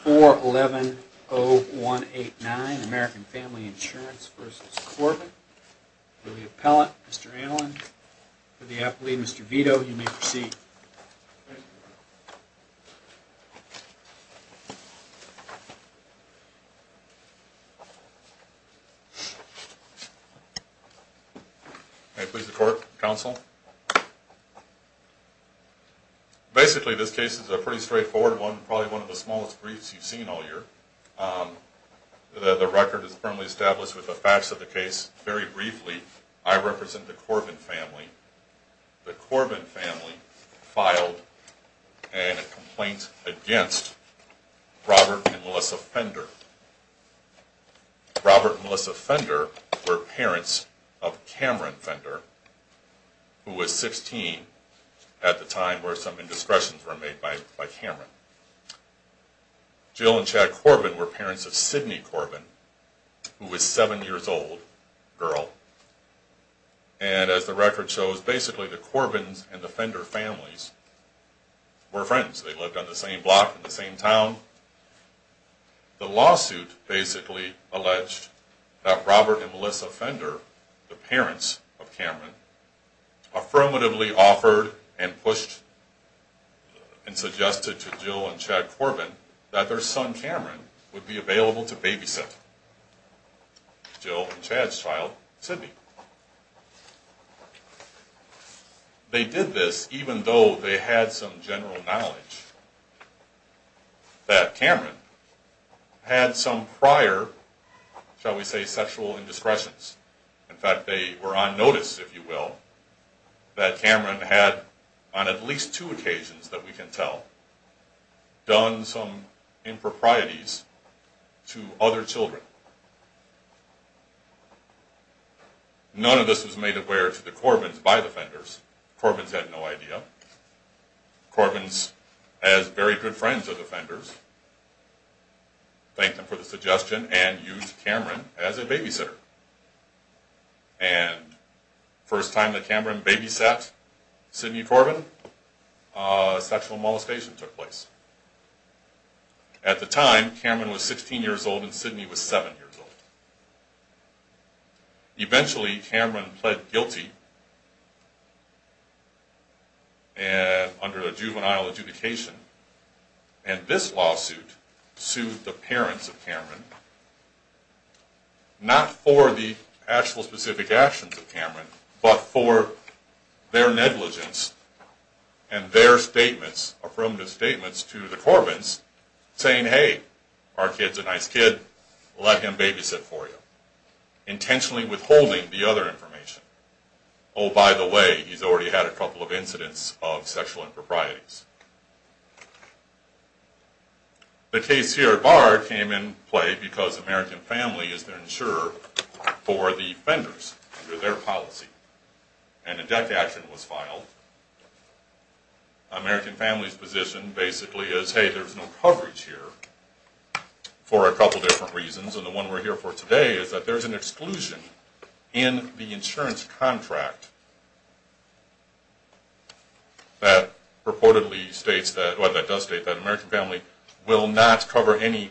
4110189 American Family Insurance v. Corbin for the appellant, Mr. Allen, for the appellee, Mr. Vito, you may proceed. May I please report, counsel? Basically, this case is a pretty straightforward one, probably one of the smallest briefs you've seen all year. The record is firmly established with the facts of the case. Very briefly, I represent the Corbin family. The Corbin family filed a complaint against Robert and Melissa Fender. Robert and Melissa Fender were parents of Cameron Fender, who was 16 at the time where some indiscretions were made by Cameron. Jill and Chad Corbin were parents of Sydney Corbin, who was 7 years old, girl. And as the record shows, basically the Corbins and the Fender families were friends. They lived on the same block, in the same town. The lawsuit basically alleged that Robert and Melissa Fender, the parents of Cameron, affirmatively offered and pushed and suggested to Jill and Chad Corbin that their son Cameron would be available to babysit Jill and Chad's child, Sydney. They did this even though they had some general knowledge that Cameron had some prior, shall we say, sexual indiscretions. In fact, they were on notice, if you will, that Cameron had, on at least two occasions that we can tell, done some improprieties to other children. None of this was made aware to the Corbins by the Fenders. The Corbins had no idea. The Corbins, as very good friends of the Fenders, thanked them for the suggestion and used Cameron as a babysitter. And the first time that Cameron babysat Sydney Corbin, a sexual molestation took place. At the time, Cameron was 16 years old and Sydney was 7 years old. Eventually, Cameron pled guilty under a juvenile adjudication. And this lawsuit sued the parents of Cameron, not for the actual specific actions of Cameron, but for their negligence and their statements, affirmative statements to the Corbins saying, hey, our kid's a nice kid, let him babysit for you, intentionally withholding the other information. Oh, by the way, he's already had a couple of incidents of sexual improprieties. The case here at Barr came in play because American Family is their insurer for the Fenders, under their policy. And a death action was filed. American Family's position basically is, hey, there's no coverage here for a couple different reasons. And the one we're here for today is that there's an exclusion in the insurance contract that reportedly states that, well, that does state that American Family will not cover any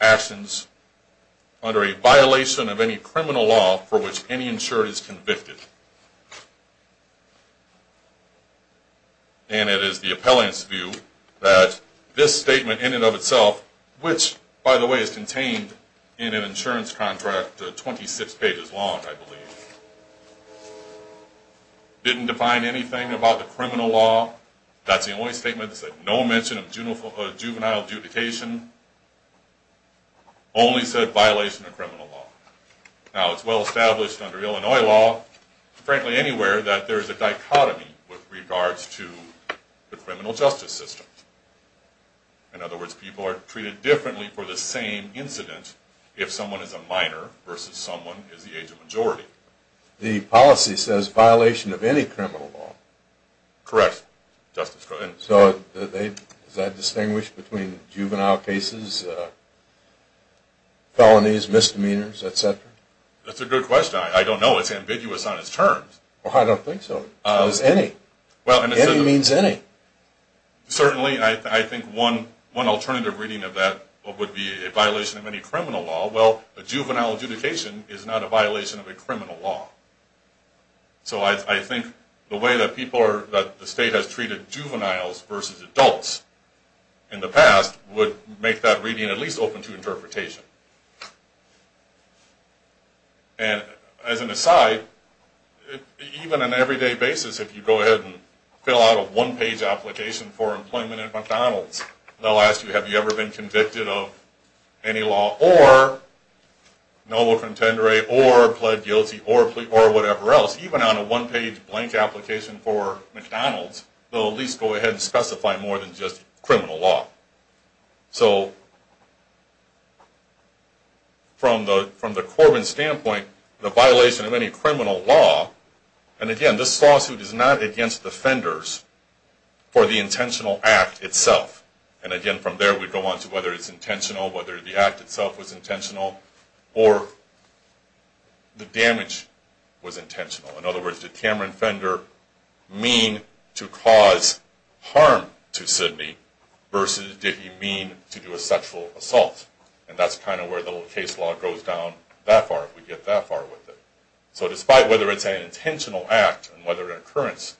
actions under a violation of any criminal law for which any insurer is convicted. And it is the appellant's view that this statement in and of itself, which, by the way, is contained in an insurance contract 26 pages long, I believe, didn't define anything about the criminal law. That's the only statement that said no mention of juvenile adjudication, only said violation of criminal law. Now, it's well established under Illinois law, frankly anywhere, that there's a dichotomy with regards to the criminal justice system. In other words, people are treated differently for the same incident if someone is a minor versus someone is the age of majority. The policy says violation of any criminal law. Correct. Justice, go ahead. So is that distinguished between juvenile cases, felonies, misdemeanors, et cetera? That's a good question. I don't know. It's ambiguous on its terms. I don't think so. It's any. Any means any. Certainly. I think one alternative reading of that would be a violation of any criminal law. Well, a juvenile adjudication is not a violation of a criminal law. So I think the way that the state has treated juveniles versus adults in the past would make that reading at least open to interpretation. And as an aside, even on an everyday basis, if you go ahead and fill out a one-page application for employment at McDonald's, they'll ask you, have you ever been convicted of any law or noble contendere or pled guilty or whatever else, even on a one-page blank application for McDonald's, they'll at least go ahead and specify more than just criminal law. So from the Corbin standpoint, the violation of any criminal law, and again, this lawsuit is not against the Fenders for the intentional act itself. And again, from there, we go on to whether it's intentional, whether the act itself was intentional, or the damage was intentional. In other words, did Cameron Fender mean to cause harm to Sidney versus did he mean to do a sexual assault? And that's kind of where the case law goes down that far, if we get that far with it. So despite whether it's an intentional act and whether an occurrence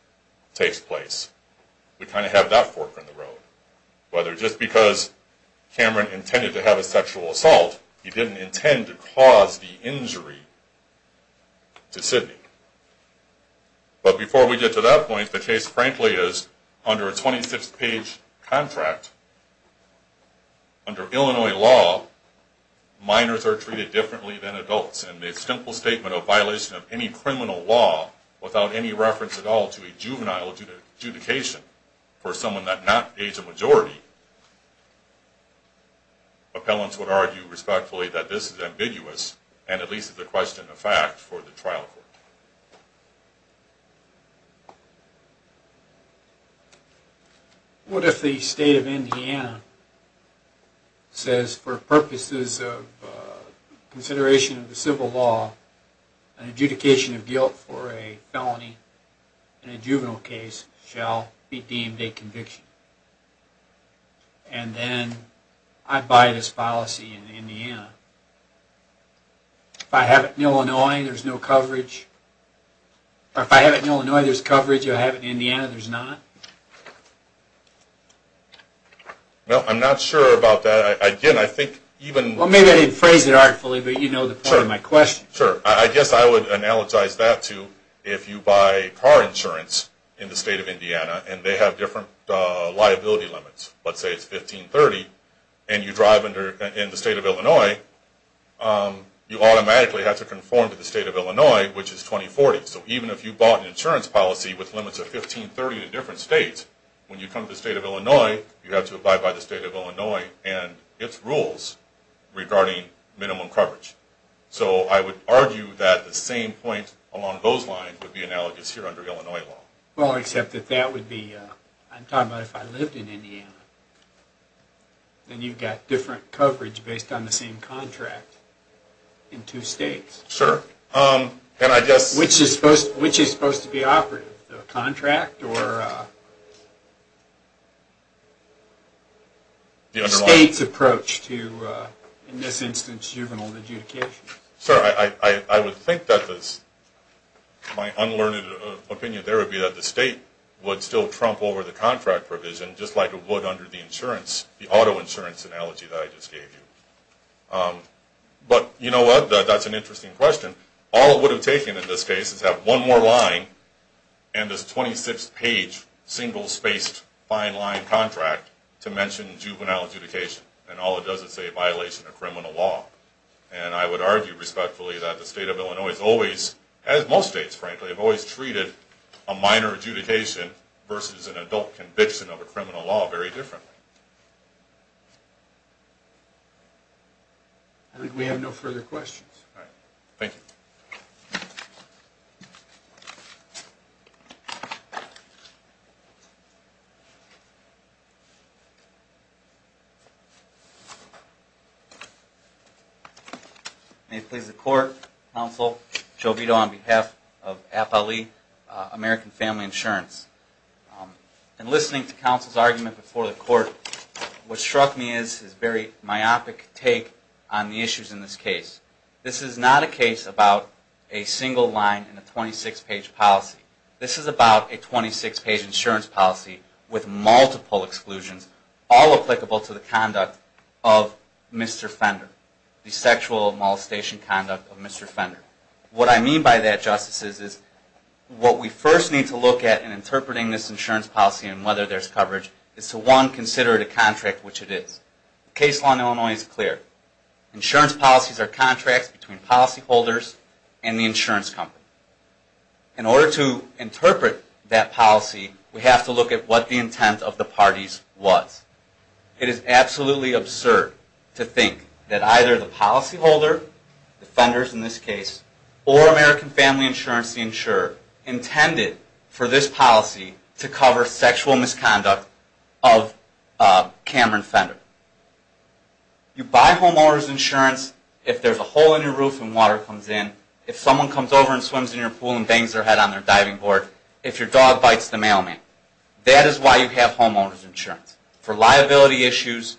takes place, we kind of have that fork in the road. Whether just because Cameron intended to have a sexual assault, he didn't intend to cause the injury to Sidney. But before we get to that point, the case frankly is under a 26-page contract, under Illinois law, minors are treated differently than adults. And the simple statement of violation of any criminal law without any reference at all to a juvenile adjudication for someone that not aged a majority, appellants would argue respectfully that this is ambiguous, and at least is a question of fact for the trial court. What if the state of Indiana says for purposes of consideration of the civil law, an adjudication of guilt for a felony in a juvenile case shall be deemed a conviction? And then I buy this policy in Indiana. If I have it in Illinois, there's no coverage. Or if I have it in Illinois, there's coverage. If I have it in Indiana, there's not. No, I'm not sure about that. Well, maybe I didn't phrase it artfully, but you know the point of my question. Sure. I guess I would analogize that to if you buy car insurance in the state of Indiana, and they have different liability limits. Let's say it's 1530, and you drive in the state of Illinois, you automatically have to conform to the state of Illinois, which is 2040. So even if you bought an insurance policy with limits of 1530 to different states, when you come to the state of Illinois, you have to abide by the state of Illinois and its rules regarding minimum coverage. So I would argue that the same point along those lines would be analogous here under Illinois law. Well, except that that would be, I'm talking about if I lived in Indiana, then you've got different coverage based on the same contract in two states. Sure. Which is supposed to be operative? The contract or the state's approach to, in this instance, juvenile adjudication? Sure. I would think that my unlearned opinion there would be that the state would still trump over the contract provision, just like it would under the auto insurance analogy that I just gave you. But you know what? That's an interesting question. All it would have taken in this case is have one more line and this 26-page single-spaced fine line contract to mention juvenile adjudication, and all it does is say violation of criminal law. And I would argue respectfully that the state of Illinois has always, as most states, frankly, have always treated a minor adjudication versus an adult conviction of a criminal law very differently. I think we have no further questions. All right. Thank you. May it please the Court. Counsel Jovito on behalf of APALE, American Family Insurance. In listening to counsel's argument before the Court, what struck me is his very myopic take on the issues in this case. This is not a case about a single line in a 26-page policy. This is about a 26-page insurance policy with multiple exclusions, all applicable to the conduct of Mr. Fender, the sexual molestation conduct of Mr. Fender. What I mean by that, Justices, is what we first need to look at in interpreting this insurance policy and whether there's coverage is to, one, consider it a contract, which it is. The case law in Illinois is clear. Insurance policies are contracts between policyholders and the insurance company. In order to interpret that policy, we have to look at what the intent of the parties was. It is absolutely absurd to think that either the policyholder, the Fenders in this case, or American Family Insurance, the insurer, intended for this policy to cover sexual misconduct of Cameron Fender. You buy homeowners insurance if there's a hole in your roof and water comes in. If someone comes over and swims in your pool and bangs their head on their diving board. If your dog bites the mailman. That is why you have homeowners insurance, for liability issues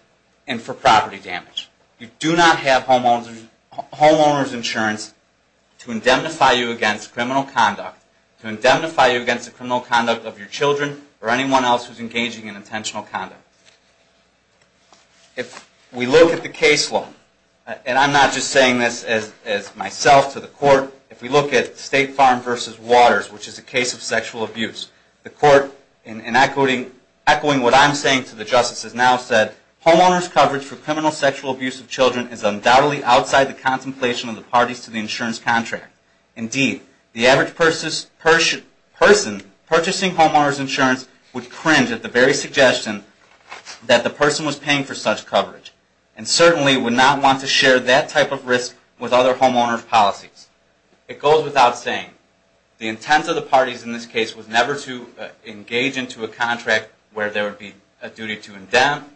and for property damage. You do not have homeowners insurance to indemnify you against criminal conduct, to indemnify you against the criminal conduct of your children or anyone else who's engaging in intentional conduct. If we look at the case law, and I'm not just saying this as myself to the court, if we look at State Farm v. Waters, which is a case of sexual abuse, the court, echoing what I'm saying to the justice, has now said, homeowners coverage for criminal sexual abuse of children is undoubtedly outside the contemplation of the parties to the insurance contract. Indeed, the average person purchasing homeowners insurance would cringe at the very suggestion that the person was paying for such coverage and certainly would not want to share that type of risk with other homeowners' policies. It goes without saying. The intent of the parties in this case was never to engage into a contract where there would be a duty to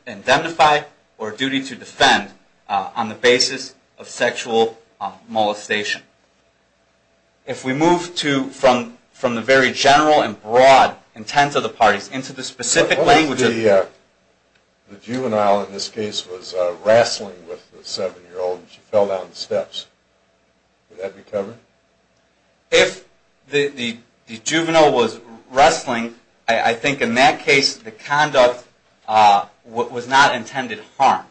indemnify or a duty to defend on the basis of sexual molestation. If we move from the very general and broad intent of the parties into the specific language... What if the juvenile in this case was wrestling with the seven-year-old and she fell down the steps? Would that be covered? If the juvenile was wrestling, I think in that case the conduct was not intended harm.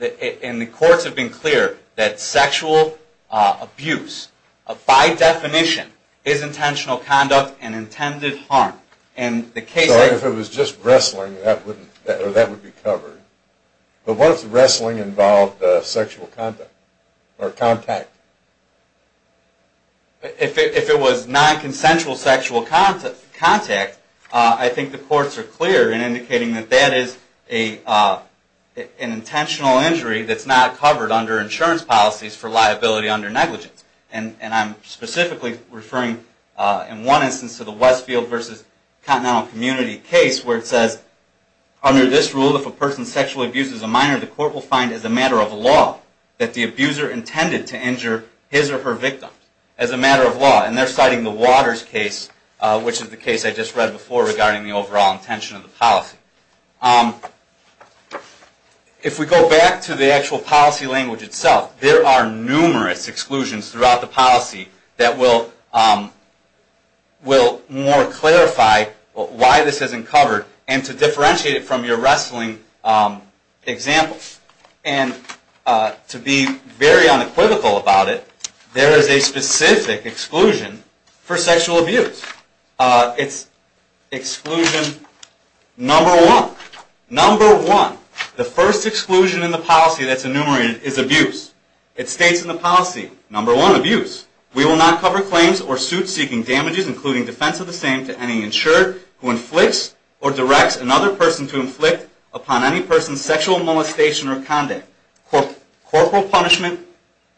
And the courts have been clear that sexual abuse, by definition, is intentional conduct and intended harm. If it was just wrestling, that would be covered. But what if the wrestling involved sexual contact? If it was non-consensual sexual contact, I think the courts are clear in indicating that that is an intentional injury that's not covered under insurance policies for liability under negligence. And I'm specifically referring in one instance to the Westfield v. Continental Community case where it says, under this rule, if a person sexually abuses a minor, the court will find as a matter of law that the abuser intended to injure his or her victim. As a matter of law. And they're citing the Waters case, which is the case I just read before regarding the overall intention of the policy. If we go back to the actual policy language itself, there are numerous exclusions throughout the policy that will more clarify why this isn't covered and to differentiate it from your wrestling example. And to be very unequivocal about it, there is a specific exclusion for sexual abuse. It's exclusion number one. Number one. The first exclusion in the policy that's enumerated is abuse. It states in the policy, number one, abuse. We will not cover claims or suits seeking damages, including defense of the same, to any insured who inflicts or directs another person to inflict upon any person sexual molestation or conduct, corporal punishment,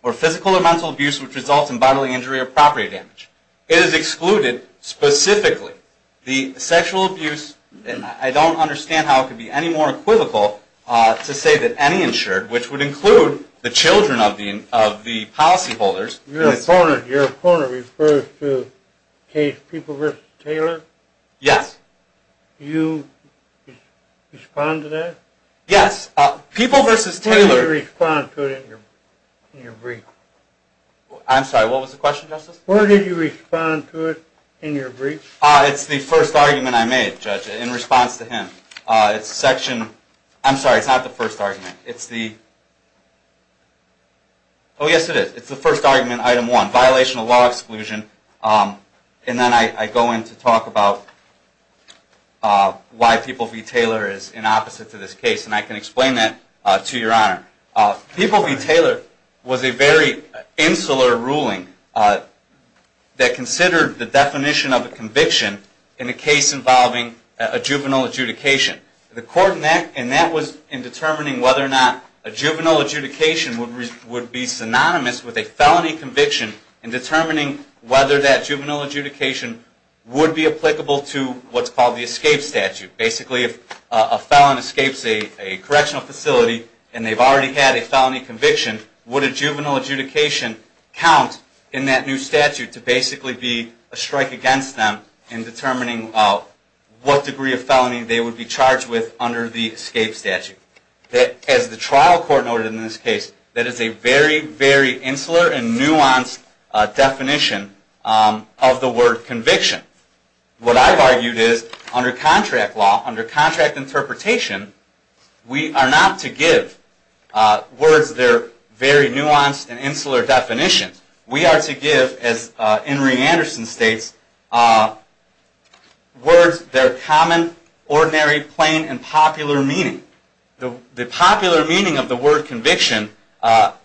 or physical or mental abuse, which results in bodily injury or property damage. It is excluded specifically the sexual abuse. I don't understand how it could be any more equivocal to say that any insured, which would include the children of the policy holders. Your opponent refers to the case People v. Taylor. Yes. Do you respond to that? Yes. People v. Taylor. How do you respond to it in your brief? I'm sorry, what was the question, Justice? Where did you respond to it in your brief? It's the first argument I made, Judge, in response to him. It's section – I'm sorry, it's not the first argument. It's the – oh, yes, it is. It's the first argument, item one, violation of law exclusion. And then I go in to talk about why People v. Taylor is in opposite to this case, and I can explain that to Your Honor. People v. Taylor was a very insular ruling that considered the definition of a conviction in a case involving a juvenile adjudication. The court in that was in determining whether or not a juvenile adjudication would be synonymous with a felony conviction in determining whether that juvenile adjudication would be applicable to what's called the escape statute. Basically, if a felon escapes a correctional facility and they've already had a felony conviction, would a juvenile adjudication count in that new statute to basically be a strike against them in determining what degree of felony they would be charged with under the escape statute? As the trial court noted in this case, that is a very, very insular and nuanced definition of the word conviction. What I've argued is, under contract law, under contract interpretation, we are not to give words their very nuanced and insular definition. We are to give, as Henry Anderson states, words their common, ordinary, plain, and popular meaning. The popular meaning of the word conviction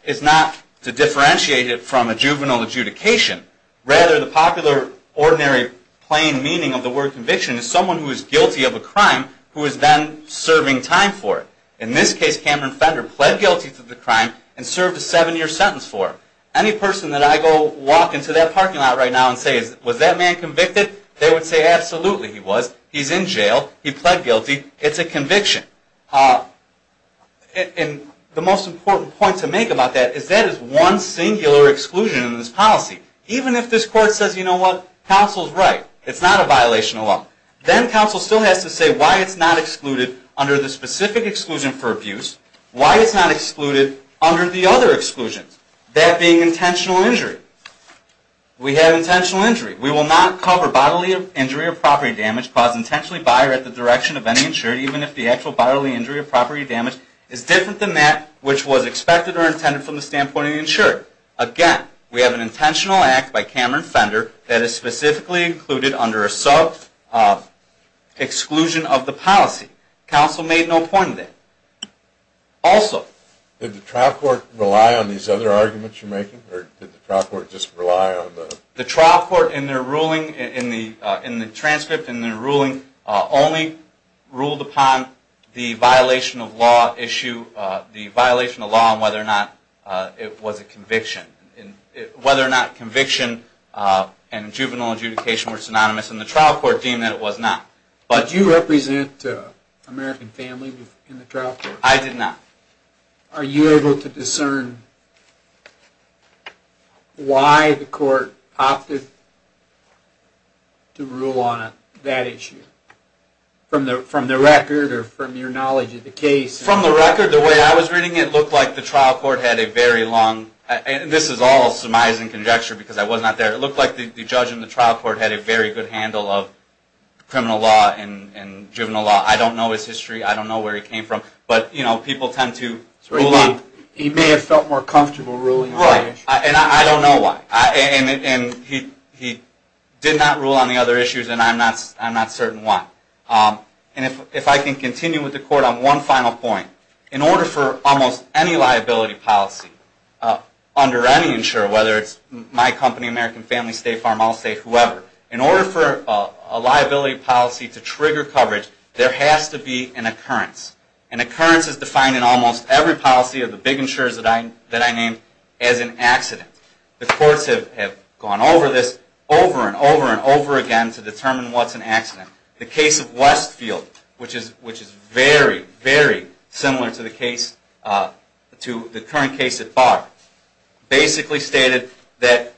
is not to differentiate it from a juvenile adjudication. Rather, the popular, ordinary, plain meaning of the word conviction is someone who is guilty of a crime who is then serving time for it. In this case, Cameron Fender pled guilty to the crime and served a seven-year sentence for it. Any person that I go walk into that parking lot right now and say, was that man convicted? They would say, absolutely he was. He's in jail. He pled guilty. It's a conviction. And the most important point to make about that is that is one singular exclusion in this policy. Even if this court says, you know what? Counsel's right. It's not a violation of law. Then counsel still has to say why it's not excluded under the specific exclusion for abuse, why it's not excluded under the other exclusions, that being intentional injury. We have intentional injury. We will not cover bodily injury or property damage caused intentionally by or at the direction of any insured, even if the actual bodily injury or property damage is different than that which was expected or intended from the standpoint of the insured. Again, we have an intentional act by Cameron Fender that is specifically included under a sub-exclusion of the policy. Counsel made no point of that. Also, did the trial court rely on these other arguments you're making, or did the trial court just rely on the? The trial court in their ruling, in the transcript in their ruling, only ruled upon the violation of law issue, the violation of law and whether or not it was a conviction. Whether or not conviction and juvenile adjudication were synonymous, and the trial court deemed that it was not. Did you represent American family in the trial court? I did not. Are you able to discern why the court opted to rule on that issue? From the record or from your knowledge of the case? From the record, the way I was reading it, it looked like the trial court had a very long, and this is all surmising conjecture because I was not there, it looked like the judge in the trial court had a very good handle of criminal law and juvenile law. I don't know his history. I don't know where he came from. But people tend to rule on. He may have felt more comfortable ruling on that issue. I don't know why. He did not rule on the other issues, and I'm not certain why. If I can continue with the court on one final point, in order for almost any liability policy under any insurer, whether it's my company, American Family, State Farm, Allstate, whoever, in order for a liability policy to trigger coverage, there has to be an occurrence. An occurrence is defined in almost every policy of the big insurers that I name as an accident. The courts have gone over this over and over and over again to determine what's an accident. The case of Westfield, which is very, very similar to the current case at Barr, basically stated that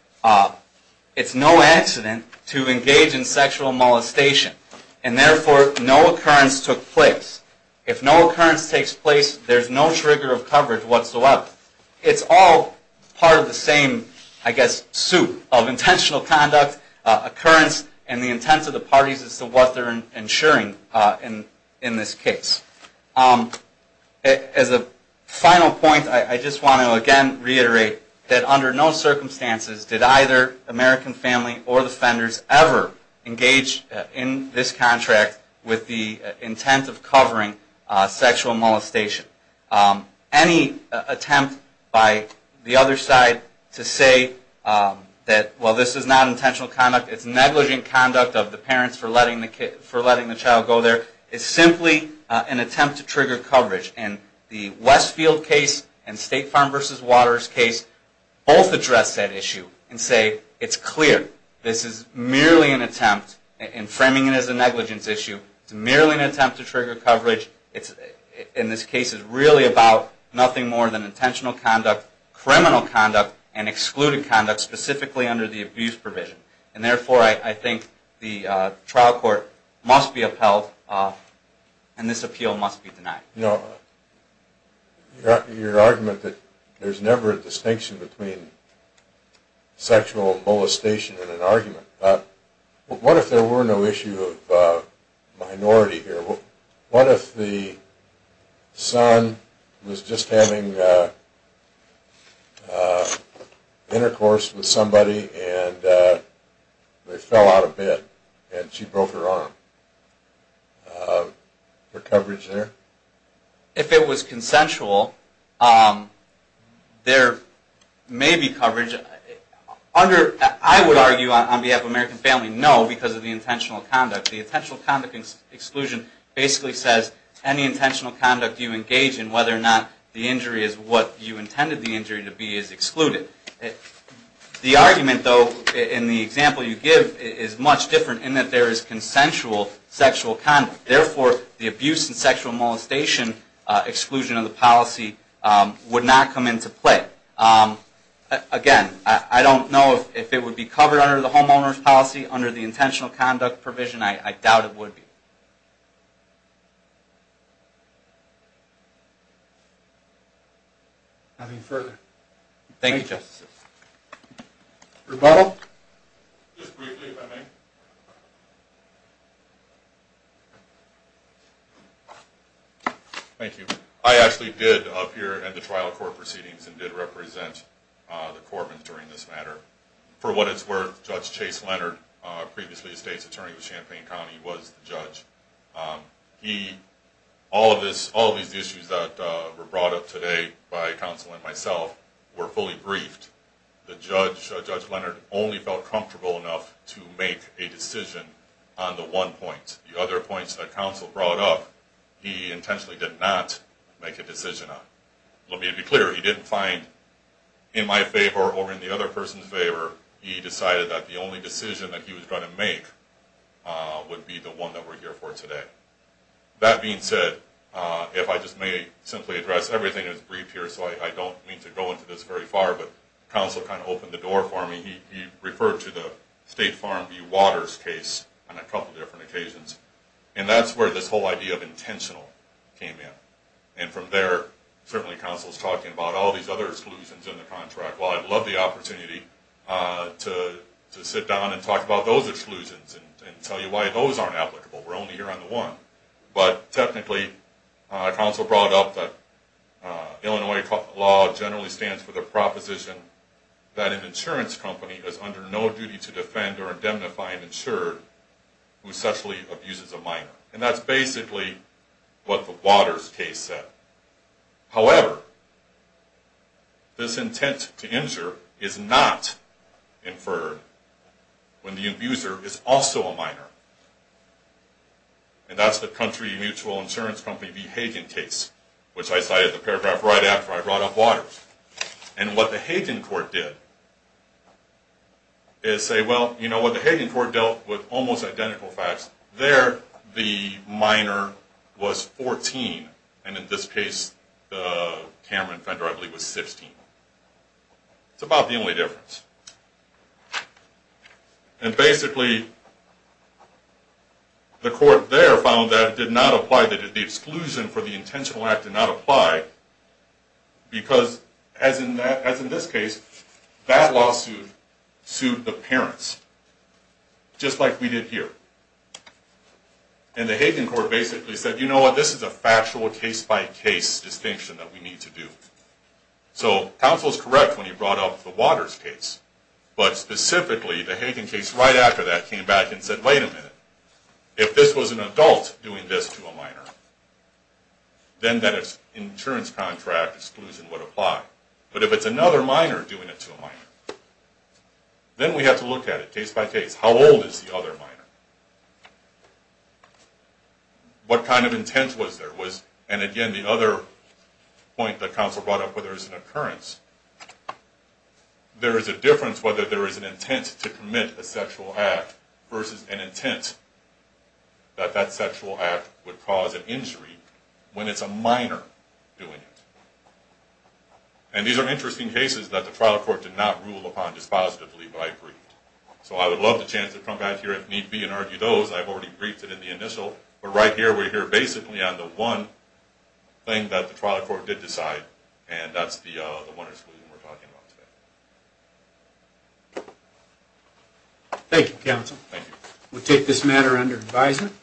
it's no accident to engage in sexual molestation, and therefore no occurrence took place. If no occurrence takes place, there's no trigger of coverage whatsoever. It's all part of the same, I guess, soup of intentional conduct, occurrence, and the intent of the parties as to what they're insuring in this case. As a final point, I just want to again reiterate that under no circumstances did either American Family or the offenders ever engage in this contract with the intent of covering sexual molestation. Any attempt by the other side to say that, well, this is not intentional conduct, it's negligent conduct of the parents for letting the child go there, is simply an attempt to trigger coverage. The Westfield case and State Farm v. Waters case both address that issue and say, it's clear, this is merely an attempt, and framing it as a negligence issue, it's merely an attempt to trigger coverage. This case is really about nothing more than intentional conduct, criminal conduct, and excluded conduct, specifically under the abuse provision. And therefore, I think the trial court must be upheld, and this appeal must be denied. You know, your argument that there's never a distinction between sexual molestation and an argument, what if there were no issue of minority here? What if the son was just having intercourse with somebody, and they fell out of bed, and she broke her arm? For coverage there? If it was consensual, there may be coverage. I would argue on behalf of American Family, no, because of the intentional conduct. The intentional conduct exclusion basically says, any intentional conduct you engage in, whether or not the injury is what you intended the injury to be, is excluded. The argument, though, in the example you give is much different, in that there is consensual sexual conduct. Therefore, the abuse and sexual molestation exclusion of the policy would not come into play. Again, I don't know if it would be covered under the homeowner's policy, under the intentional conduct provision, I doubt it would be. Nothing further. Thank you, Justices. Rebuttal? Just briefly, if I may. Thank you. I actually did appear at the trial court proceedings and did represent the court during this matter. For what it's worth, Judge Chase Leonard, previously a state's attorney with Champaign County, was the judge. All of these issues that were brought up today by counsel and myself were fully briefed. Judge Leonard only felt comfortable enough to make a decision on the one point. The other points that counsel brought up, he intentionally did not make a decision on. Let me be clear, he didn't find in my favor or in the other person's favor, he decided that the only decision that he was going to make would be the one that we're here for today. That being said, if I just may simply address everything that's briefed here, so I don't mean to go into this very far, but counsel kind of opened the door for me. He referred to the State Farm v. Waters case on a couple different occasions. And that's where this whole idea of intentional came in. And from there, certainly counsel's talking about all these other exclusions in the contract. Well, I'd love the opportunity to sit down and talk about those exclusions and tell you why those aren't applicable. We're only here on the one. But technically, counsel brought up that Illinois law generally stands for the proposition that an insurance company is under no duty to defend or indemnify an insured who sexually abuses a minor. And that's basically what the Waters case said. However, this intent to injure is not inferred when the abuser is also a minor. And that's the country mutual insurance company v. Hagen case, which I cited the paragraph right after I brought up Waters. And what the Hagen court did is say, well, you know what, the Hagen court dealt with almost identical facts. There, the minor was 14. And in this case, Cameron Fender, I believe, was 16. It's about the only difference. And basically, the court there found that it did not apply, that the exclusion for the intentional act did not apply, because as in this case, that lawsuit sued the parents, just like we did here. And the Hagen court basically said, you know what, this is a factual case-by-case distinction that we need to do. So counsel is correct when he brought up the Waters case. But specifically, the Hagen case right after that came back and said, wait a minute. If this was an adult doing this to a minor, then that insurance contract exclusion would apply. But if it's another minor doing it to a minor, then we have to look at it case-by-case. How old is the other minor? What kind of intent was there? And again, the other point that counsel brought up, whether it's an occurrence, there is a difference whether there is an intent to commit a sexual act versus an intent that that sexual act would cause an injury when it's a minor doing it. And these are interesting cases that the trial court did not rule upon dispositively, but I agreed. So I would love the chance to come back here if need be and argue those. I've already briefed it in the initial. But right here, we're here basically on the one thing that the trial court did decide, and that's the Waters case we're talking about today. Thank you, counsel. Thank you. We'll take this matter under advisement.